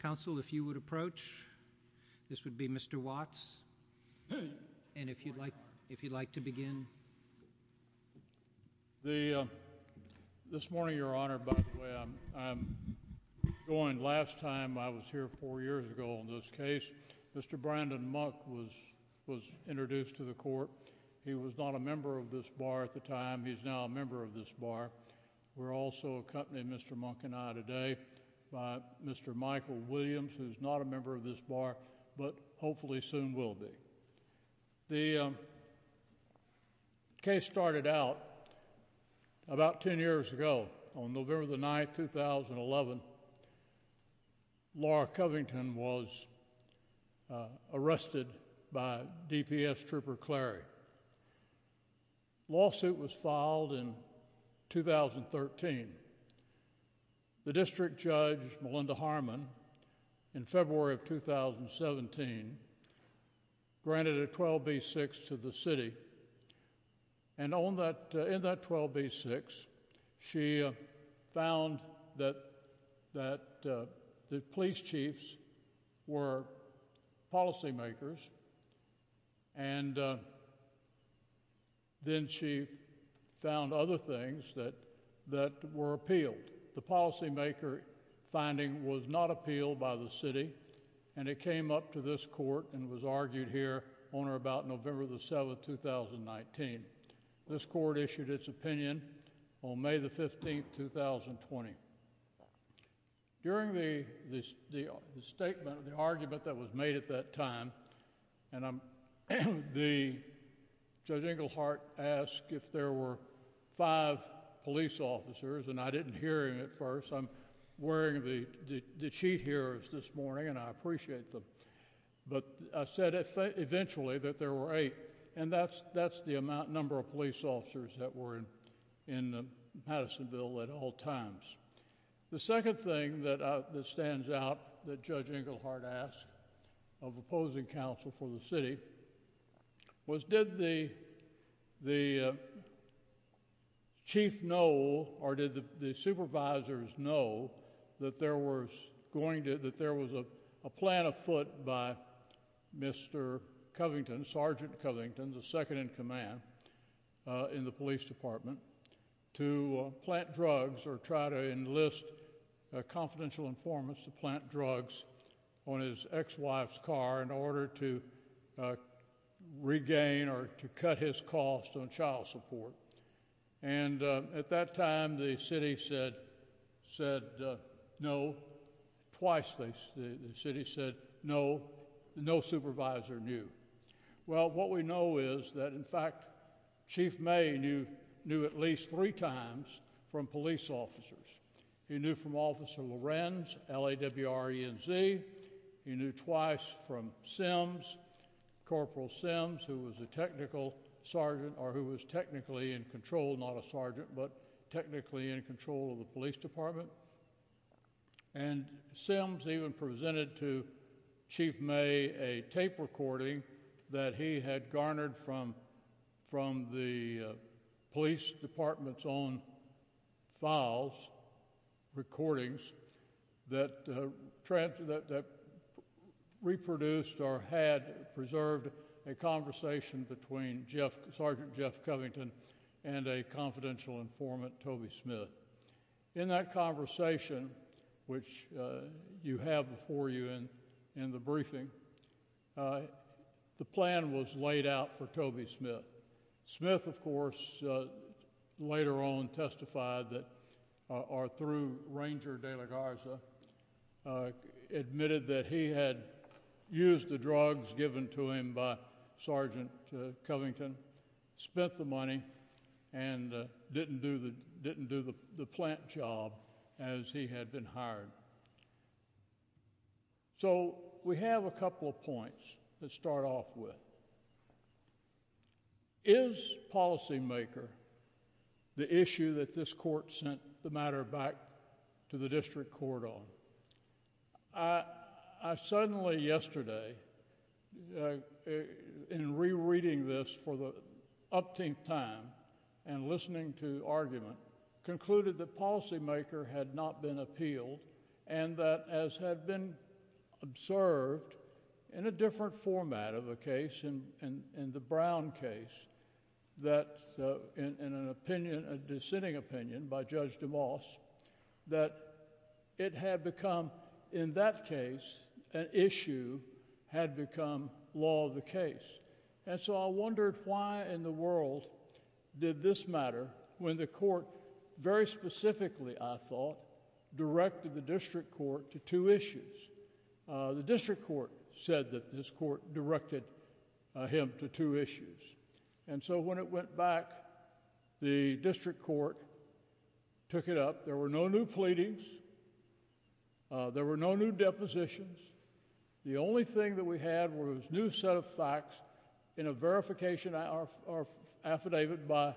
Council, if you would approach. This would be Mr. Watts. And if you'd like to begin. This morning, Your Honor, by the way, I joined last time I was here four years ago in this case. Mr. Brandon Munk was introduced to the court. He was not a member of this bar at the time. He's now a member of this bar. We're also accompanied Mr. Munk and I today by Mr. Michael Williams, who's not a member of this bar, but hopefully soon will be. The case started out about 10 years ago on November the 9th, 2011. Laura Covington was arrested by DPS Trooper Clary. Lawsuit was filed in 2013. The district judge, Melinda Harmon, in February of 2017, granted a 12b6 to the city. And in that 12b6, she found that the police chiefs were policymakers. And then she found other things that that were appealed. The policymaker finding was not appealed by the city. And it came up to this court and was argued here on or about November the 7th, 2019. This court issued its opinion on May the 15th, 2020. During the hearing, Judge Inglehart asked if there were five police officers. And I didn't hear him at first. I'm wearing the the sheet here this morning and I appreciate them. But I said eventually that there were eight. And that's that's the amount number of police officers that were in Madisonville at all times. The second thing that stands out that Judge Inglehart asked of opposing counsel for the city was did the the chief know or did the supervisors know that there was going to that there was a plan afoot by Mr. Covington, Sergeant Covington, the second-in-command in the police department, to plant drugs or try to enlist confidential informants to plant drugs on his ex-wife's car in order to regain or to cut his cost on child support. And at that time the city said said no twice. The city said no, no supervisor knew. Well what we know is that in fact Chief May knew at least three times from police officers. He knew from Officer Lorenz, L-A-W-R-E-N-Z. He knew twice from CIMS, Corporal CIMS, who was a technical sergeant or who was technically in control, not a sergeant, but technically in control of the police department. And CIMS even presented to Chief May a tape recording that he had garnered from from the police department's own files, recordings, that reproduced or had preserved a conversation between Sergeant Jeff Covington and a confidential informant Toby Smith. In that conversation, which you have before you in the briefing, the plan was laid out for Toby Smith. Smith of course later on testified that or through Ranger De La Garza admitted that he had used the drugs given to him by Sergeant Covington, spent the money, and didn't do the didn't do the plant job as he had been hired. So we have a couple of points to start off with. Is policymaker the issue that this court sent the matter back to the district court on? I suddenly yesterday in rereading this for the the district court, after listening to argument, concluded that policymaker had not been appealed and that as had been observed in a different format of a case, in the Brown case, that in an case. And so I wondered why in the world did this matter when the court, very specifically I thought, directed the district court to two issues. The district court said that this court directed him to two issues. And so when it went back, the district court took it up. There were no new facts in a verification affidavit by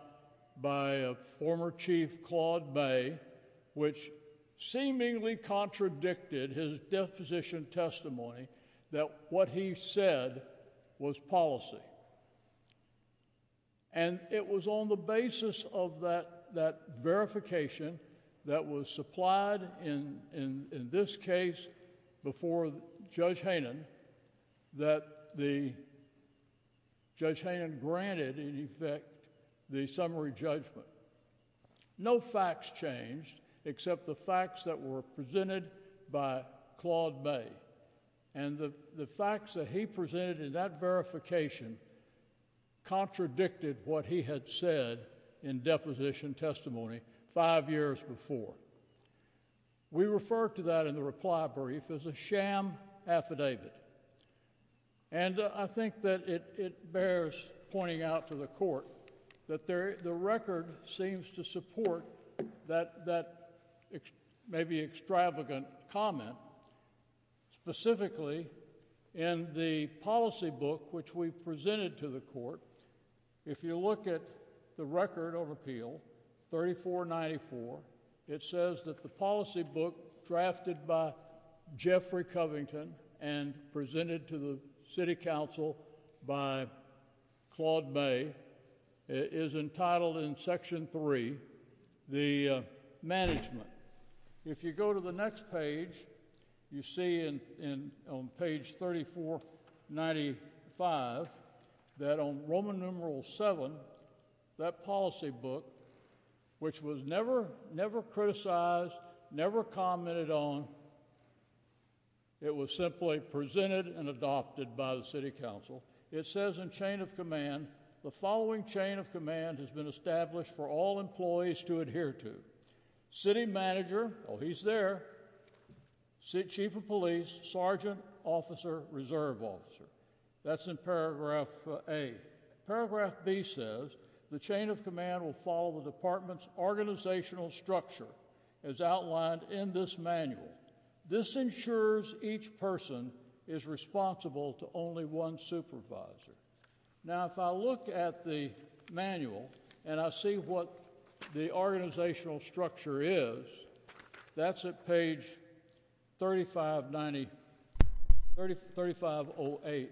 a former chief, Claude Bay, which seemingly contradicted his deposition testimony that what he said was policy. And it was on the basis of that verification that was supplied in in this case before Judge Haynen that the Judge Haynen granted in effect the summary judgment. No facts changed except the facts that were presented by Claude Bay. And the the facts that he presented in that verification contradicted what he had said in his deposition testimony five years before. We refer to that in the reply brief as a sham affidavit. And I think that it bears pointing out to the court that the record seems to support that maybe extravagant comment, specifically in the policy book which we presented to the court. If you look at the record of appeal, 3494, it says that the policy book drafted by Jeffrey Covington and presented to the city council by Claude Bay is entitled in section three, the management. If you go to the next page, you see in on page 3495 that on Roman numeral seven, that policy book, which was never never criticized, never commented on, it was simply presented and adopted by the city council. It says in chain of command, the following chain of command has been established for all employees to adhere to. City manager, oh he's there, chief of police, sergeant, officer, reserve officer. That's in paragraph A. Paragraph B says the chain of command will follow the department's organizational structure as outlined in this manual. This ensures each person is responsible to only one supervisor. Now if I look at the manual and I see what the organizational structure is, that's at page 3590, 3508,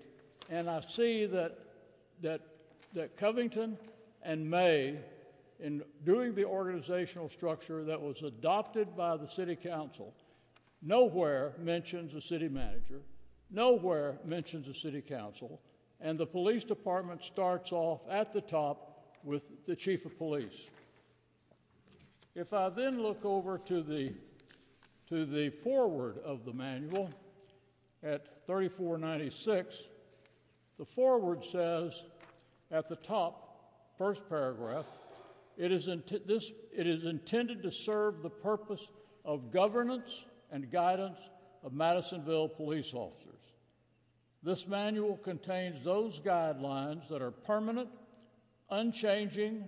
and I see that Covington and May, in doing the organizational structure that was adopted by the city council, nowhere mentions a city manager, nowhere mentions a city council, and the police department starts off at the top with the chief of police. If I then look over to the forward of the manual at 3496, the forward says at the top first paragraph, it is intended to serve the purpose of governance and guidance of the department. This manual contains those guidelines that are permanent, unchanging,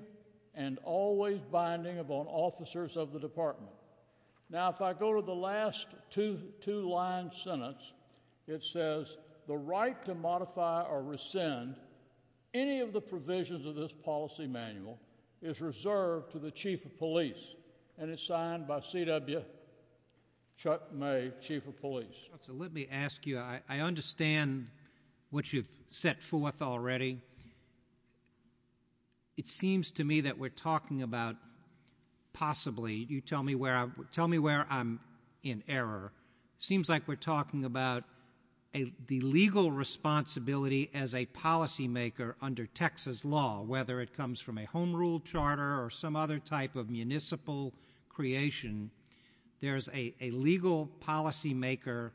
and always binding upon officers of the department. Now if I go to the last two line sentence, it says the right to modify or rescind any of the provisions of this policy manual is reserved to the chief of police and it's signed by C.W. Chuck May, chief of police. Let me ask you, I understand what you've set forth already. It seems to me that we're talking about possibly, you tell me where I'm in error, seems like we're talking about the legal responsibility as a policy maker under Texas law, whether it comes from a home rule charter or some other type of municipal creation, there's a legal policy maker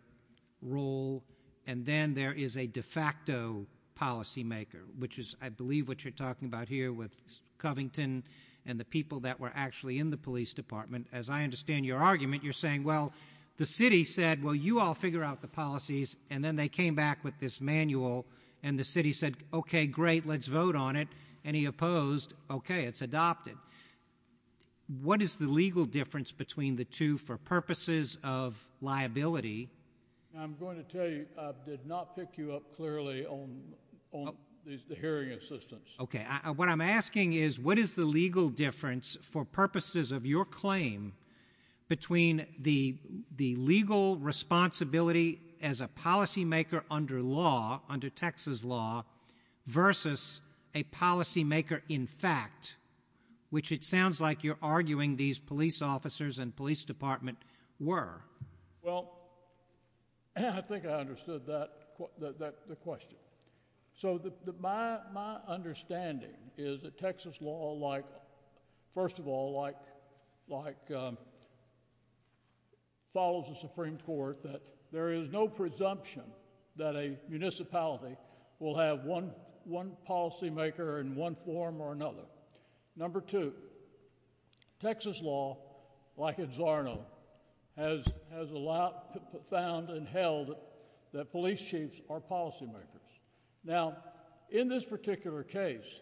role and then there is a de facto policy maker, which is I believe what you're talking about here with Covington and the people that were actually in the police department. As I understand your argument, you're saying, well, the city said, well, you all figure out the policies and then they came back with this manual and the city said, okay, great, let's vote on it, and he opposed, okay, it's adopted. But what is the legal difference between the two for purposes of liability? I'm going to tell you, I did not pick you up clearly on the hearing assistance. Okay, what I'm asking is what is the legal difference for purposes of your claim between the legal responsibility as a policy maker under law, under Texas law, versus a policy maker in fact, which it sounds like you're arguing these police officers and police department were? Well, I think I understood the question. So my understanding is that Texas law, first of all, follows the Supreme Court, that there is no presumption that a municipality will have one policy maker in one form or another. Number two, Texas law, like in Zarno, has allowed, found, and held that police chiefs are policy makers. Now, in this particular case,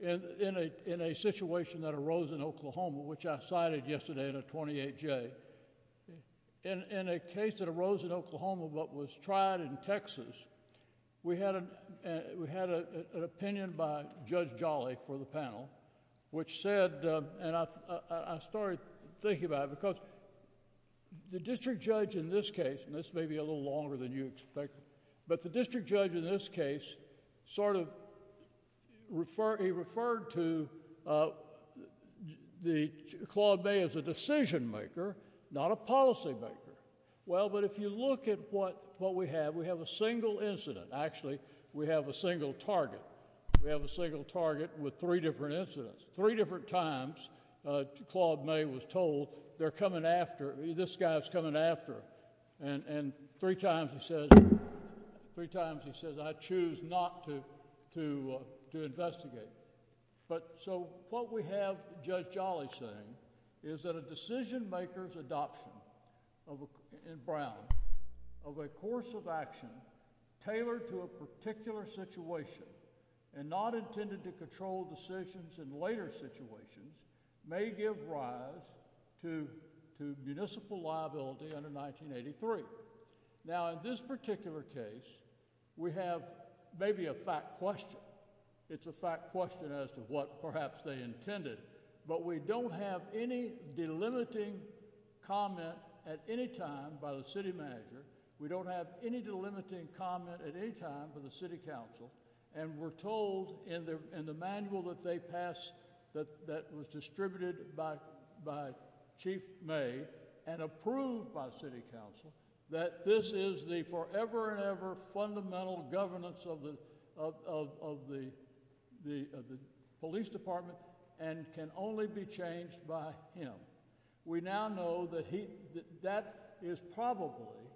in a situation that arose in Oklahoma, which I cited yesterday in a 28-J, in a case that arose in Oklahoma but was tried in Texas, we had an opinion by Judge Jolly for the panel, which said, and I started thinking about it, because the district judge in this case, and this may be a little longer than you expect, but the district judge in this case sort of, he referred to Claude May as a decision maker, not a policy maker. Well, but if you look at what we have, we have a single incident. Actually, we have a single target. We have a single target with three different incidents. Three different times Claude May was not to investigate. But so what we have Judge Jolly saying is that a decision maker's adoption in Brown of a course of action tailored to a particular situation and not intended to control decisions in later situations may give rise to municipal liability under 1983. Now, in this case, it's a fact question. It's a fact question as to what perhaps they intended. But we don't have any delimiting comment at any time by the city manager. We don't have any delimiting comment at any time for the city council. And we're told in the manual that they passed, that was distributed by Chief May and approved by city council, that this is the forever and ever fundamental governance of the police department and can only be changed by him. We now know that is probably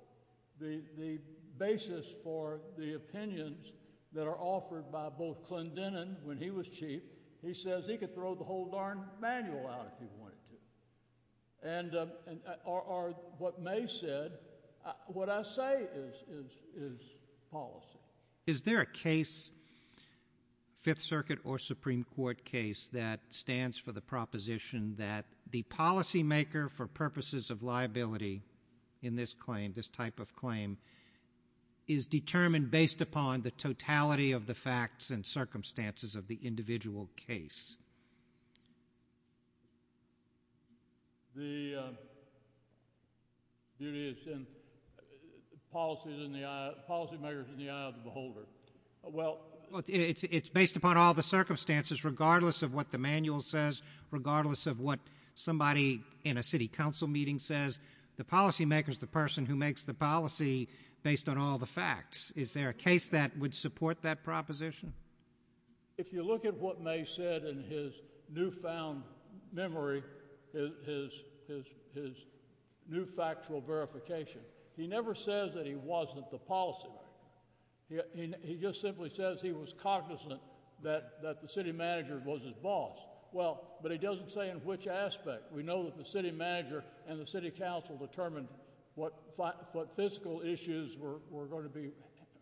the basis for the opinions that are offered by both Clinton and when he was chief, he says he could throw the whole darn manual out if he wanted to. And or what May said, what I say is policy. Is there a case, Fifth Circuit or Supreme Court case that stands for the proposition that the policymaker for purposes of liability in this claim, this type of claim, is determined based upon the totality of the facts and circumstances of the individual case? The duty is in policies in the eye, policy makers in the eye of the beholder. Well, it's based upon all the circumstances, regardless of what the manual says, regardless of what somebody in a city council meeting says, the policymaker is the person who makes the policy based on all the facts. Is there a case that would support that proposition? If you look at what May said in his newfound memory, his new factual verification, he never says that he wasn't the policymaker. He just simply says he was cognizant that the city manager was his boss. Well, but he doesn't say in which aspect. We know that the city manager and the city council determined what fiscal issues were going to be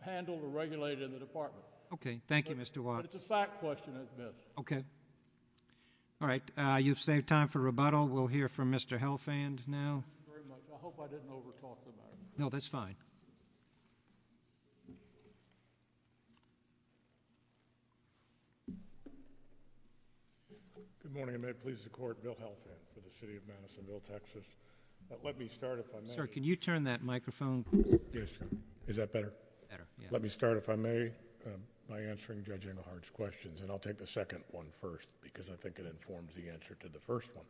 handled or regulated in the department. Okay. Thank you, Mr. Watts. But it's a fact question, I admit. Okay. All right. You've saved time for rebuttal. We'll hear from Mr. Helfand now. I hope I didn't over-talk the matter. No, that's fine. Good morning, and may it please the Court, Bill Helfand for the City of Madisonville, Texas. Let me start if I may. Sir, can you turn that by answering Judge Engelhardt's questions, and I'll take the second one first because I think it informs the answer to the first one.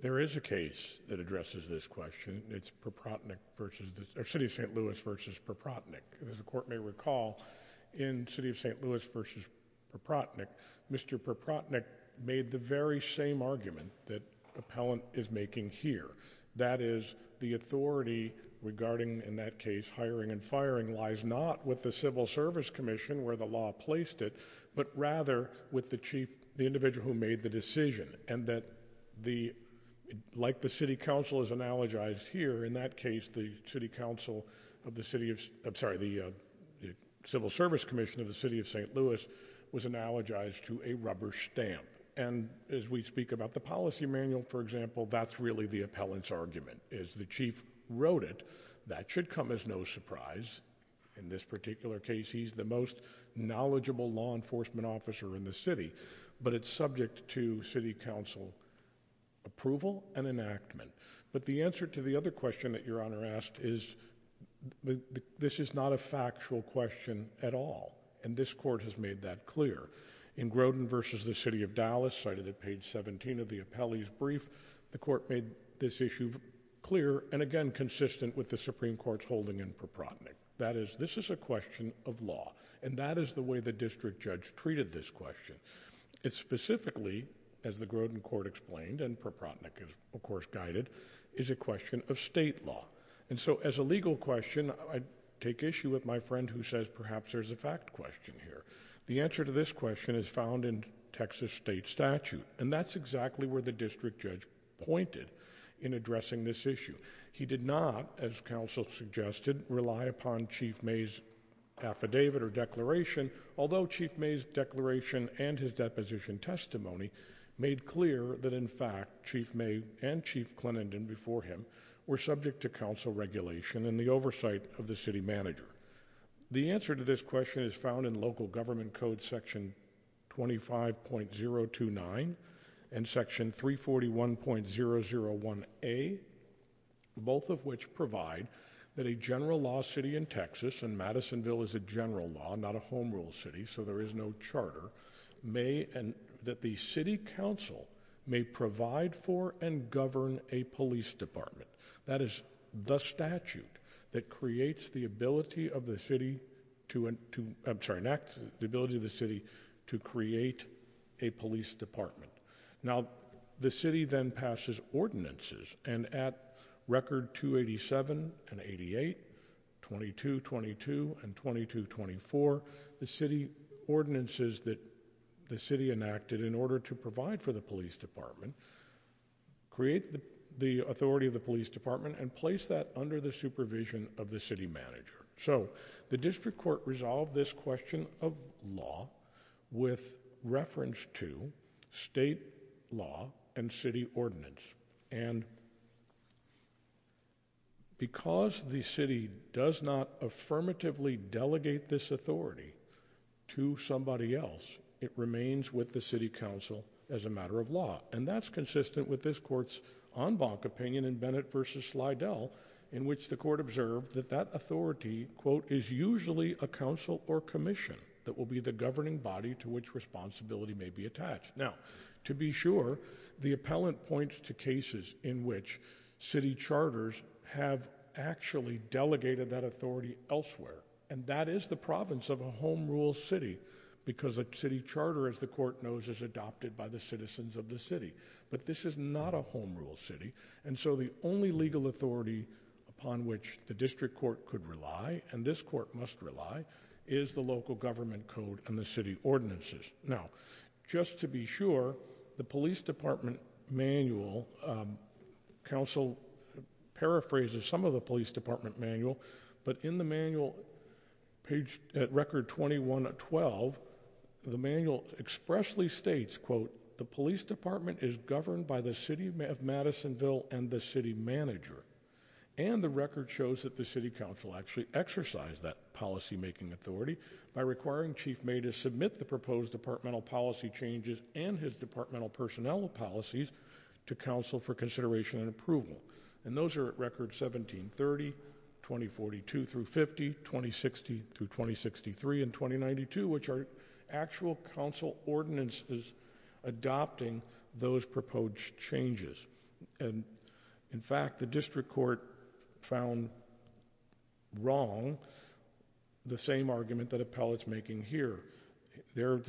There is a case that addresses this question. It's Perprotnick versus the City of St. Louis versus Perprotnick. As the Court may recall, in City of St. Louis versus Perprotnick, Mr. Perprotnick made the very same argument that appellant is making here. That is, the authority regarding, in that case, hiring and firing lies not with the Civil Service Commission where the law placed it, but rather with the Chief, the individual who made the decision. And that the, like the City Council is analogized here, in that case, the City Council of the City of, I'm sorry, the Civil Service Commission of the City of St. Louis was analogized to a rubber stamp. And as we speak about the policy manual, for example, that's really the appellant's argument. As the Chief wrote it, that should come as no surprise. In this particular case, he's the most knowledgeable law enforcement officer in the city, but it's subject to City Council approval and enactment. But the answer to the other question that Your Honor asked is, this is not a factual question at all, and this Court has made that clear. In Grodin versus the City of Dallas, cited at page 17 of the appellee's brief, the Court made this issue clear and, again, consistent with the Supreme Court's holding in Proprotnick. That is, this is a question of law, and that is the way the District Judge treated this question. It's specifically, as the Grodin Court explained, and Proprotnick is, of course, guided, is a question of state law. And so, as a legal question, I take issue with my friend who says, perhaps there's a fact question here. The answer to this question is found in Texas state statute, and that's exactly where the District Judge pointed in addressing this issue. He did not, as counsel suggested, rely upon Chief May's affidavit or declaration, although Chief May's declaration and his deposition testimony made clear that, in fact, Chief May and Chief Clenenden before him were subject to council regulation and the oversight of the City Manager. The answer to this question is found in local government code section 25.029 and section 341.001A, both of which provide that a general law city in Texas, and Madisonville is a general law, not a home rule city, so there is no charter, may, and that the City Council may provide for and govern a police department. That is the statute that creates the ability of the city to, I'm sorry, enacts the ability of the city to create a police department. Now, the city then passes ordinances, and at record 287 and 88, 2222 and 2224, the city ordinances that the city enacted in order to provide for the police department create the authority of the police department and place that under the supervision of the City Manager. So, the district court resolved this question of law with reference to state law and city ordinance, and because the city does not affirmatively delegate this authority to somebody else, it remains with the City Council as a matter of law, and that's consistent with this court's en banc opinion in Bennett v. Slidell, in which the court observed that that authority, quote, is usually a council or commission that will be the governing body to which responsibility may be attached. Now, to be sure, the appellant points to cases in which city charters have actually delegated that authority elsewhere, and that is the province of a home rule city, because a city charter, as the court knows, is adopted by the citizens of the city, but this is not a home rule city, and so the only legal authority upon which the district court could rely, and this court must rely, is the local government code and the city ordinances. Now, just to be sure, the police department manual, council paraphrases some of the police department manual, but in the manual page at record 21-12, the manual expressly states, quote, the police department is governed by the city of Madisonville and the city manager, and the record shows that the city council actually exercised that policymaking authority by requiring Chief May to submit the proposed departmental policy changes and his departmental personnel policies to council for consideration and approval, and those are at record 17-30, 20-42 through 50, 20-60 through 20-63, and 20-92, which are actual council ordinances adopting those proposed changes, and in fact, the district court found wrong the same argument that Appellate's making here. There,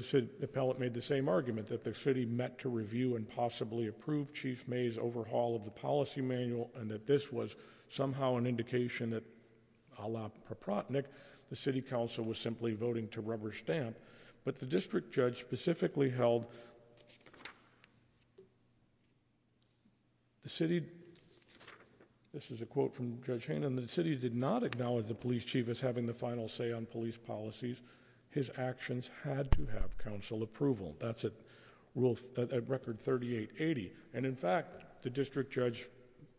Appellate made the same argument that the city met to review and possibly approve Chief May's overhaul of the policy manual, and that this was somehow an indication that, a la Proprotnick, the city council was simply voting to rubber stamp, but the district judge specifically held the city, this is a quote from Judge Hannon, the city did not acknowledge the police chief as having the final say on police policies. His actions had to have council approval. That's at record 38-80, and in fact, the district judge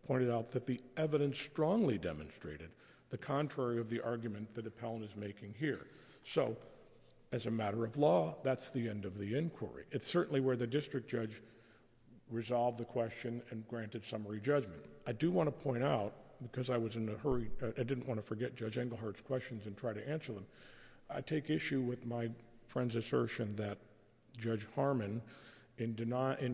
pointed out that the evidence strongly demonstrated the contrary of the argument that Appellant is making here, so as a matter of law, that's the end of the inquiry. It's certainly where the district judge resolved the question and granted summary judgment. I do want to point out, because I was in a hurry, I didn't want to forget Judge Englehart's questions and try to answer them, I take issue with my friend's assertion that Judge Harmon, in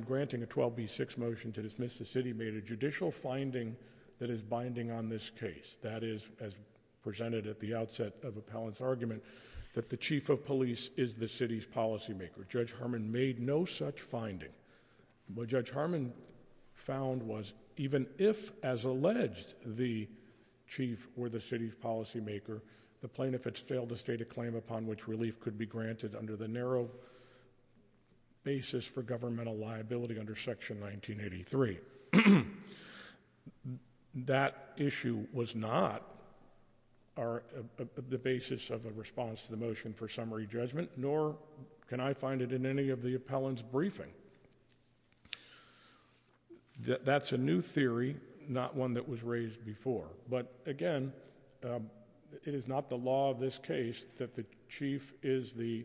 granting a 12B6 motion to dismiss the city, made a judicial finding that is binding on this case, that is, as presented at the outset of Appellant's argument, that the chief of police is the city's policymaker. Judge Harmon made no such finding. What Judge Harmon found was, even if, as alleged, the chief were the city's policymaker, the plaintiffs failed to state a claim upon which relief could be granted under the narrow basis for governmental summary judgment, nor can I find it in any of the Appellant's briefing. That's a new theory, not one that was raised before, but again, it is not the law of this case that the chief is the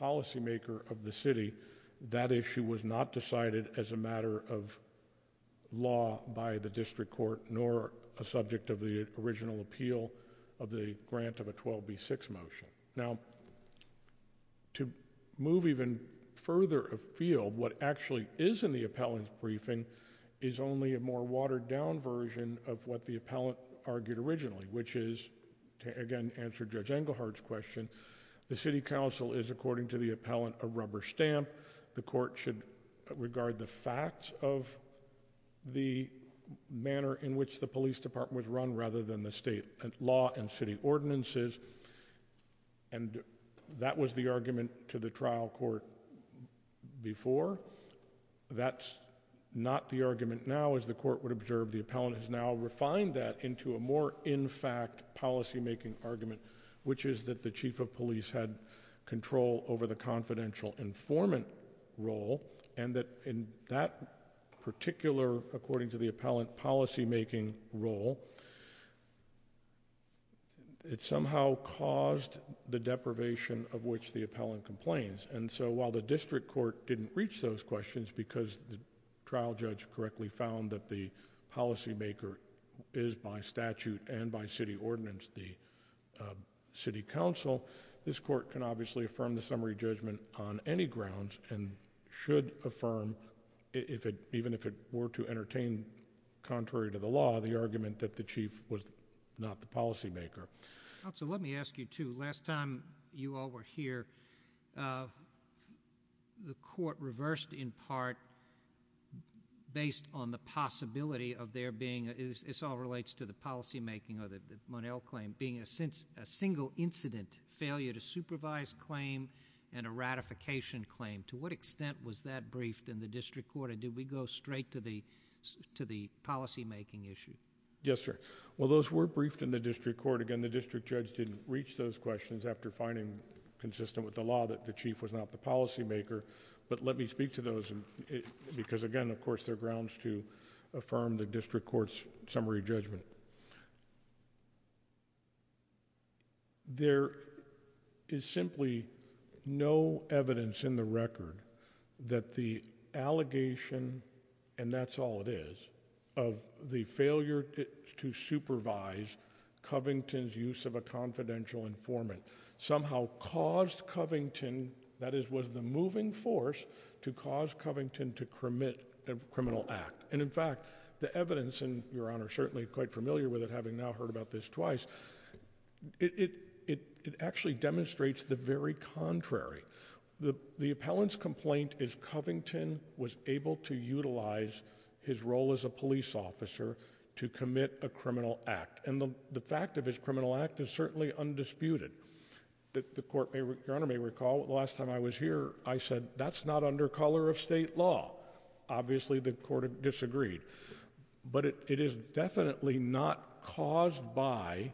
policymaker of the city. That issue was not decided as a matter of Now, to move even further afield, what actually is in the Appellant's briefing is only a more watered-down version of what the Appellant argued originally, which is, again, to answer Judge Englehart's question, the city council is, according to the Appellant, a rubber stamp. The court should regard the facts of the manner in which the police department was and that was the argument to the trial court before. That's not the argument now, as the court would observe. The Appellant has now refined that into a more in-fact policymaking argument, which is that the chief of police had control over the confidential informant role and that, in that particular, according to the Appellant, policymaking role, it somehow caused the deprivation of which the Appellant complains, and so while the district court didn't reach those questions because the trial judge correctly found that the policymaker is, by statute and by city ordinance, the city council, this court can obviously affirm the summary judgment on any grounds and should affirm, even if it were to entertain contrary to the law, the argument that the chief was not the policymaker. So let me ask you, too. Last time you all were here, the court reversed in part based on the possibility of there being, this all relates to the policymaking or the Monell claim, being a single incident failure to supervise claim and a ratification claim. To what extent was that briefed in the district court and did we go straight to the policymaking issue? Yes, sir. Well, those were briefed in the district court. Again, the district judge didn't reach those questions after finding consistent with the law that the chief was not the policymaker, but let me speak to those because, again, of course, they're grounds to affirm the district court's summary judgment. There is simply no evidence in the record that the allegation, and that's all it is, of the failure to supervise Covington's use of a confidential informant somehow caused Covington, that is, was the moving force to cause Covington to commit a criminal act. And in fact, the evidence, and Your Honor is certainly quite familiar with it, having now heard about this twice, it actually demonstrates the very contrary. The appellant's complaint is Covington was able to utilize his role as a police officer to commit a criminal act, and the fact of his criminal act is certainly undisputed. Your Honor may recall, the last time I was here, I said, that's not under color of state law. Obviously, the court disagreed, but it is definitely not caused by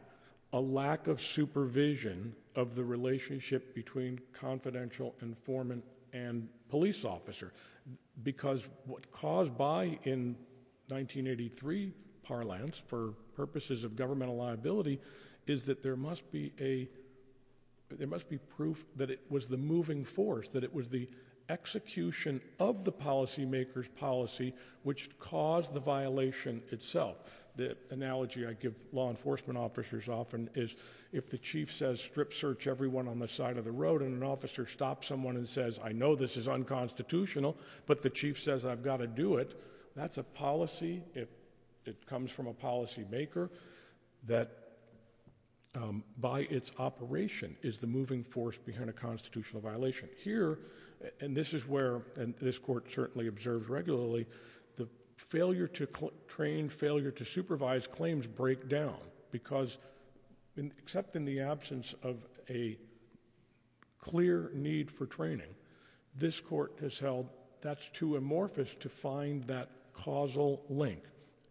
a lack of supervision of the relationship between confidential informant and police officer, because what caused by in 1983 parlance, for purposes of governmental liability, is that there must be a, there must be proof that it was the moving force, that it was the execution of the policymaker's policy which caused the violation itself. The analogy I give law enforcement officers often is, if the chief says, strip search everyone on the side of the road, and an officer stops someone and says, I know this is unconstitutional, but the chief says, I've got to do it, that's a policy, it comes from a policymaker, that by its operation is the moving force behind a constitutional violation. Here, and this is where, and this court certainly observes regularly, the failure to train, failure to supervise claims break down, because except in the absence of a clear need for training, this court has held that's too amorphous to find that causal link,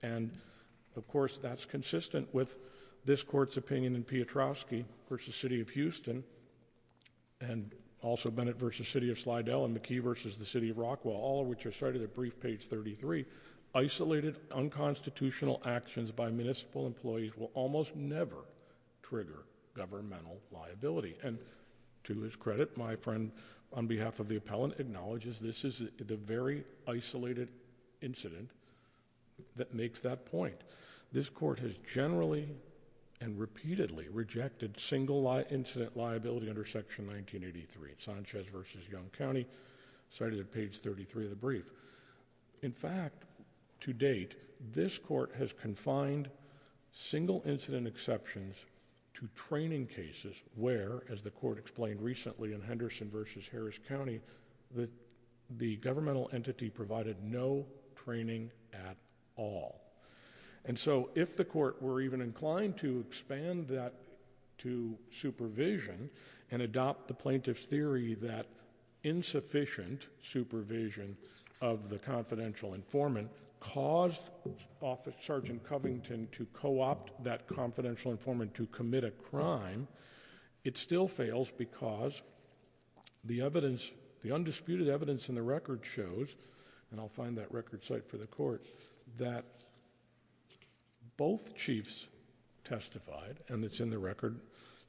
and of course, that's consistent with this court's opinion in Piotrowski versus City of Houston, and also Bennett versus City of Slidell, and McKee versus the City of Rockwell, all of which are cited at brief page 33, isolated unconstitutional actions by municipal employees will almost never trigger governmental liability, and to his credit, my friend on behalf of the appellant acknowledges this is the very isolated incident that makes that point. This court has generally and repeatedly rejected single incident liability under section 1983. Sanchez versus Young County, cited at page 33 of the brief. In fact, to date, this court has confined single incident exceptions to training cases where, as the court explained recently in Henderson versus Harris County, that the governmental entity provided no training at all, and so if the court were even insufficient supervision of the confidential informant caused Sergeant Covington to co-opt that confidential informant to commit a crime, it still fails because the evidence, the undisputed evidence in the record shows, and I'll find that record site for the court, that both chiefs it's in the record,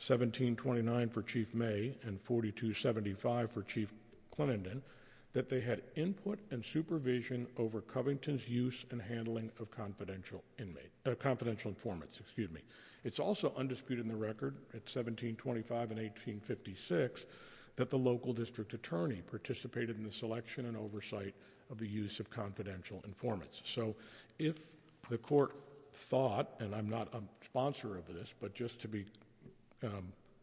1729 for Chief May and 4275 for Chief Clenenden, that they had input and supervision over Covington's use and handling of confidential informants. It's also undisputed in the record at 1725 and 1856 that the local district attorney participated in the selection and oversight of the use of confidential informants, so if the court thought, and I'm not a sponsor of this, but just to be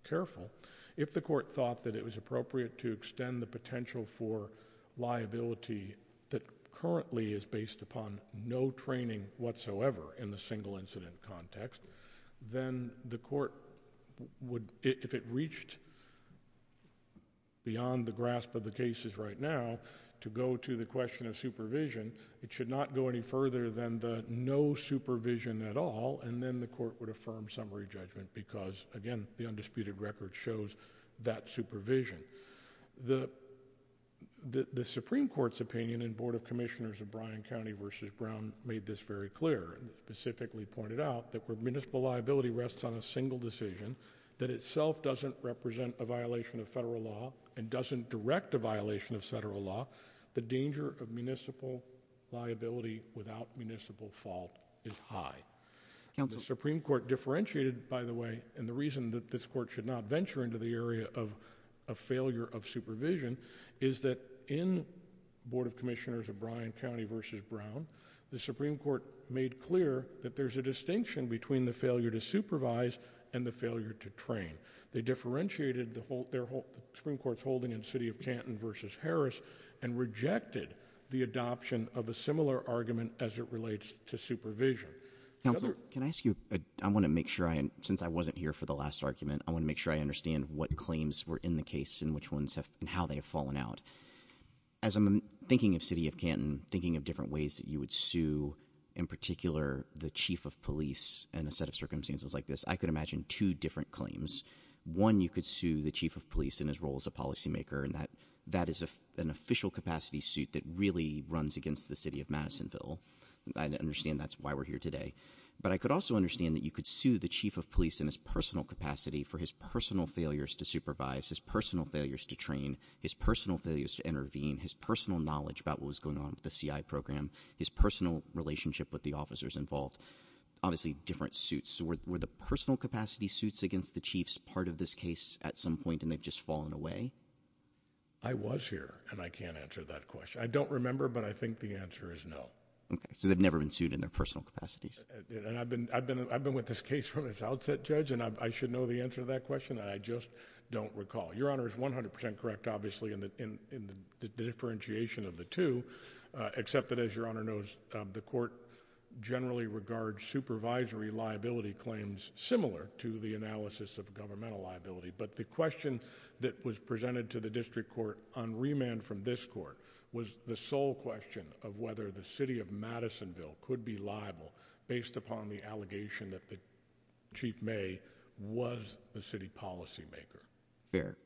careful, if the court thought that it was appropriate to extend the potential for liability that currently is based upon no training whatsoever in the single incident context, then the court would, if it reached beyond the grasp of the cases right now, to go to the question of supervision, it should not go any further than the no supervision at all, and then the court would affirm summary judgment because, again, the undisputed record shows that supervision. The Supreme Court's opinion in Board of Commissioners of Bryan County versus Brown made this very clear and specifically pointed out that where municipal liability rests on a single decision that itself doesn't represent a violation of federal law and doesn't direct a violation of the federal law. The Supreme Court differentiated, by the way, and the reason that this court should not venture into the area of a failure of supervision is that in Board of Commissioners of Bryan County versus Brown, the Supreme Court made clear that there's a distinction between the failure to supervise and the failure to train. They differentiated the Supreme Court's holding in the City of Canton versus Harris and rejected the adoption of a similar argument as it relates to supervision. Counsel, can I ask you, I want to make sure I, since I wasn't here for the last argument, I want to make sure I understand what claims were in the case and which ones have, and how they have fallen out. As I'm thinking of City of Canton, thinking of different ways that you would sue, in particular, the Chief of Police in a set of circumstances like this, I could imagine two different claims. One, you could sue the Chief of Police in his role as a policymaker and that is an official capacity suit that really runs against the City of Madisonville. I understand that's why we're here today. But I could also understand that you could sue the Chief of Police in his personal capacity for his personal failures to supervise, his personal failures to train, his personal failures to intervene, his personal knowledge about what was going on with the CI program, his personal relationship with the officers involved. Obviously, different suits. So were the personal capacity suits against the Chiefs part of this case at some point and they've fallen away? I was here and I can't answer that question. I don't remember, but I think the answer is no. Okay, so they've never been sued in their personal capacities. And I've been with this case from its outset, Judge, and I should know the answer to that question. I just don't recall. Your Honor is 100% correct, obviously, in the differentiation of the two, except that, as Your Honor knows, the court generally regards supervisory liability claims similar to the that was presented to the district court on remand from this court was the sole question of whether the city of Madisonville could be liable based upon the allegation that the Chief May was the city policymaker. Fair.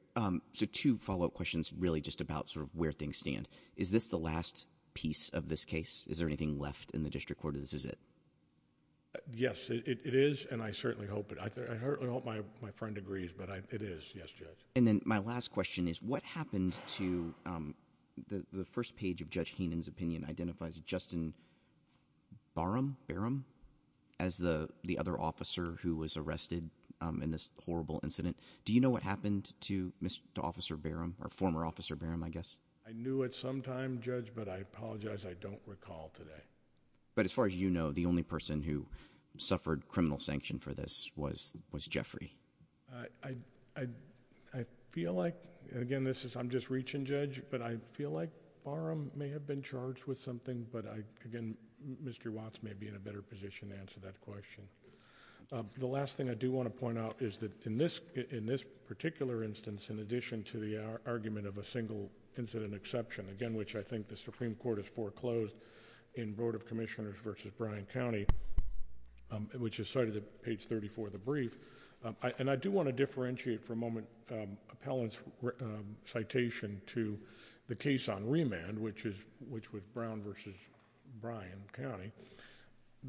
So two follow-up questions really just about sort of where things stand. Is this the last piece of this case? Is there anything left in the district court or this is it? Yes, it is, and I certainly hope it. I certainly hope my friend agrees, but it is, yes, Judge. And then my last question is what happened to the first page of Judge Heenan's opinion identifies Justin Barham as the the other officer who was arrested in this horrible incident. Do you know what happened to Mr. Officer Barham or former Officer Barham, I guess? I knew it sometime, Judge, but I apologize I don't recall today. But as far as you know, the only person who suffered criminal sanction for this was was Jeffrey. I feel like, again, this is I'm just reaching, Judge, but I feel like Barham may have been charged with something, but I, again, Mr. Watts may be in a better position to answer that question. The last thing I do want to point out is that in this in this particular instance, in addition to the argument of a single incident exception, again, which I think the Supreme Court has foreclosed in Board of Commissioners versus Bryan County, which is cited at page 34 of the brief, and I do want to differentiate for a moment appellant's citation to the case on remand, which is which was Brown versus Bryan County.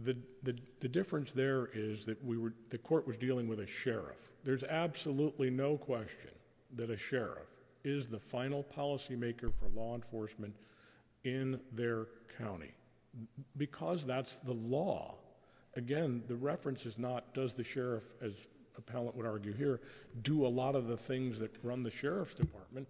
The difference there is that we were the court was dealing with a sheriff. There's absolutely no question that a sheriff is the final policymaker for law enforcement in their county because that's the law. Again, the reference is not does the sheriff, as appellant would argue here, do a lot of the things that run the sheriff's department.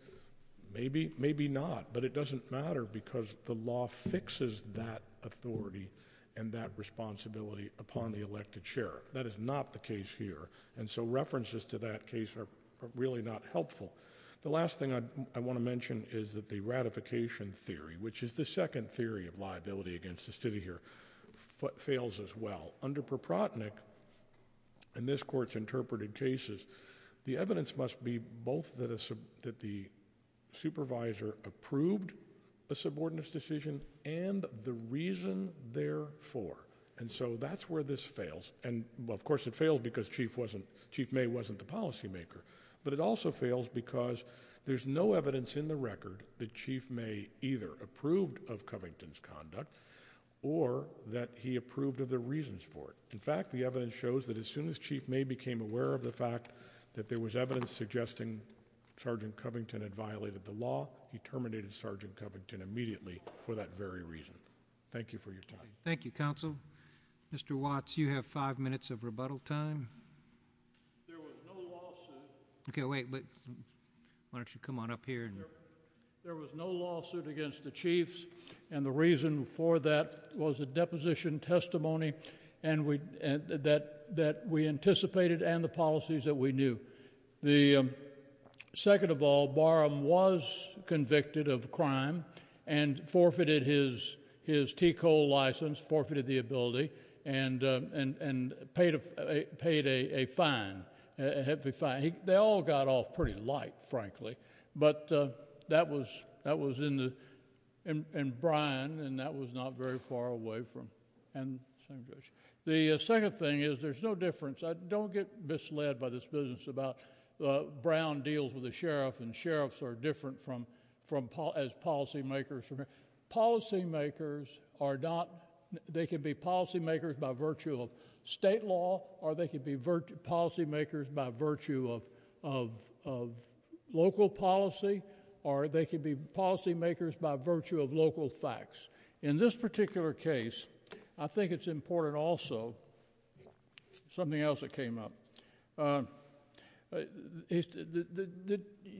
Maybe, maybe not, but it doesn't matter because the law fixes that authority and that responsibility upon the elected sheriff. That is not the case here, and so references to that case are really not helpful. The last thing I want to mention is that the ratification theory, which is the second theory of liability against the city here, fails as well. Under Proprotnick and this court's interpreted cases, the evidence must be both that the supervisor approved a subordinates decision and the reason therefore, and so that's where this fails, and of course it failed because Chief wasn't Chief May wasn't the policymaker, but it also fails because there's no evidence in the record that Chief May either approved of Covington's conduct or that he approved of the reasons for it. In fact, the evidence shows that as soon as Chief May became aware of the fact that there was evidence suggesting Sergeant Covington had violated the law, he terminated Sergeant Covington immediately for that very reason. Thank you for your time. Thank you, counsel. Mr. Watts, you have five minutes of rebuttal time. There was no lawsuit. Okay, wait, why don't you come on up here. There was no lawsuit against the Chiefs, and the reason for that was a deposition testimony, and that we anticipated and the policies that we knew. The second of all, Barham was convicted of crime and forfeited his T. Cole license, forfeited the ability, and paid a fine, a heavy fine. They all got off pretty light, frankly, but that was in Bryan, and that was not very far away. The second thing is there's no difference. Don't get misled by this business about Brown deals with the sheriff, and sheriffs are different as policy makers. Policy makers are not, they could be policy makers by virtue of state law, or they could be policy makers by virtue of local policy, or they could be policy makers by virtue of local facts. In this particular case, I think it's important also, something else that came up,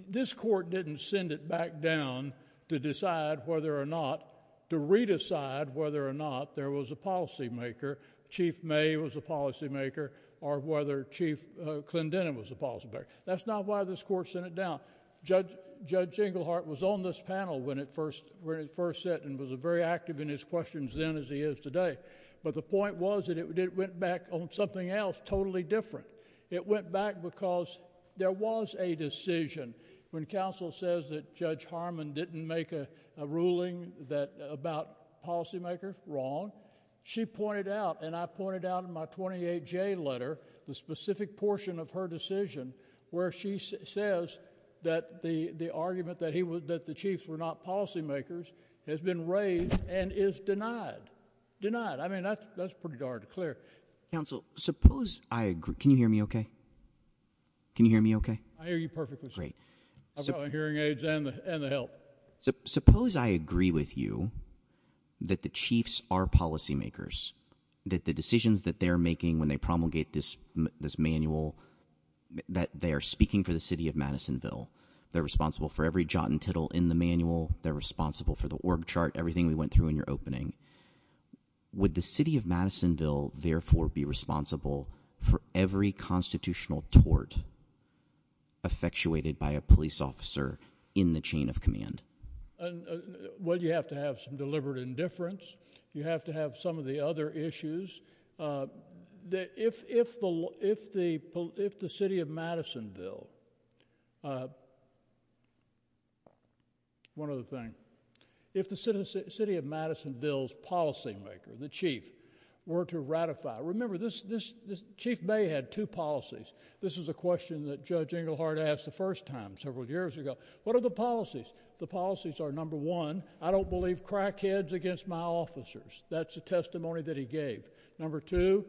this court didn't send it back down to decide whether or not, to re-decide whether or not there was a policy maker, Chief May was a policy maker, or whether Chief Clendenin was a policy maker. That's not why this court sent it down. Judge Englehart was on this panel when it first, and was very active in his questions then as he is today, but the point was that it went back on something else totally different. It went back because there was a decision when counsel says that Judge Harmon didn't make a ruling about policy makers, wrong. She pointed out, and I pointed out in my 28J letter, the specific portion of her decision where she says that the argument that the Chiefs were not policy makers has been raised and is denied. Denied. I mean that's pretty darn clear. Counsel, suppose I agree, can you hear me okay? Can you hear me okay? I hear you perfectly. Great. I've got my hearing aids and the help. Suppose I agree with you that the Chiefs are policy makers, that the decisions that they're making when they promulgate this manual, that they are speaking for the city of Madisonville, they're responsible for every jot and tittle in the manual, they're responsible for the org chart, everything we went through in your opening. Would the city of Madisonville therefore be responsible for every constitutional tort effectuated by a police officer in the chain of command? Well, you have to have some deliberate indifference. You have to have some of the other things. You have to have some of the other things. You have to have some of the other things. If the city of Madisonville's policy maker, the Chief, were to ratify, remember this, Chief May had two policies. This is a question that Judge Engelhardt asked the first time, several years ago. What are the policies? The policies are number one, I don't believe crackheads against my officers. That's a testimony that he gave. Number two,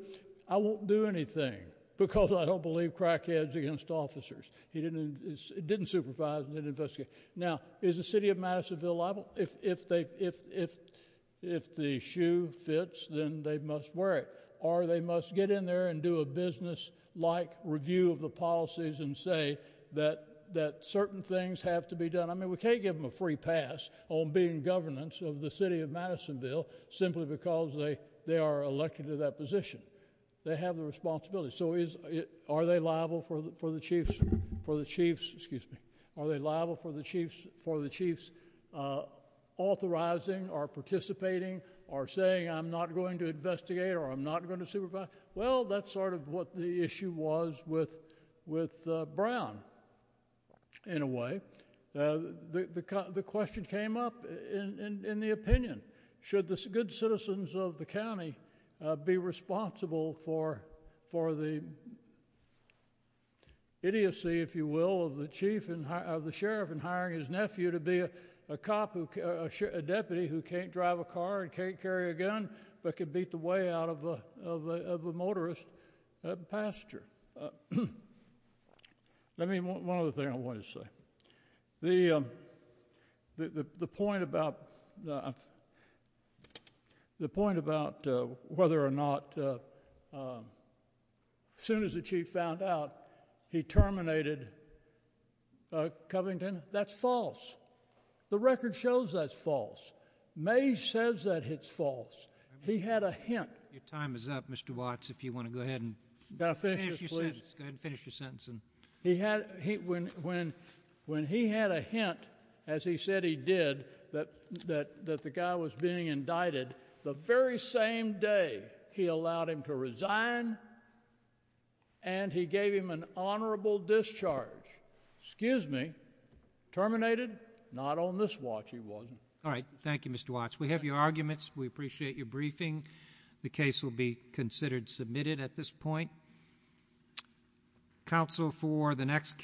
I won't do anything because I don't believe crackheads against officers. He didn't supervise and didn't investigate. Now, is the city of Madisonville liable? If the shoe fits, then they must wear it, or they must get in there and do a business-like review of the policies and say that certain things have to be done. I mean, we can't give them a free pass on being governance of the city of Madisonville simply because they are elected to that position. They have the responsibility. Are they liable for the Chief's authorizing or participating or saying, I'm not going to investigate or I'm not going to supervise? Well, that's sort of what the issue was with Brown, in a way. The question came up in the opinion. Should the good citizens of the county be responsible for the idiocy, if you will, of the sheriff in hiring his nephew to be a deputy who can't drive a car and can't carry a gun but can beat the way out of a motorist passenger? Let me, one other thing I want to say. The point about whether or not, as soon as the Chief found out he terminated Covington, that's false. The record shows that's false. May says that it's false. He had a hint. Your time is up, Mr. Watts, if you want to go finish your sentence. Go ahead and finish your sentence. When he had a hint, as he said he did, that the guy was being indicted, the very same day he allowed him to resign and he gave him an honorable discharge. Excuse me, terminated? Not on this watch, he wasn't. All right. Thank you, Mr. Watts. We have your arguments. We appreciate your briefing. The case will be considered submitted at this point. Counsel, for the next case,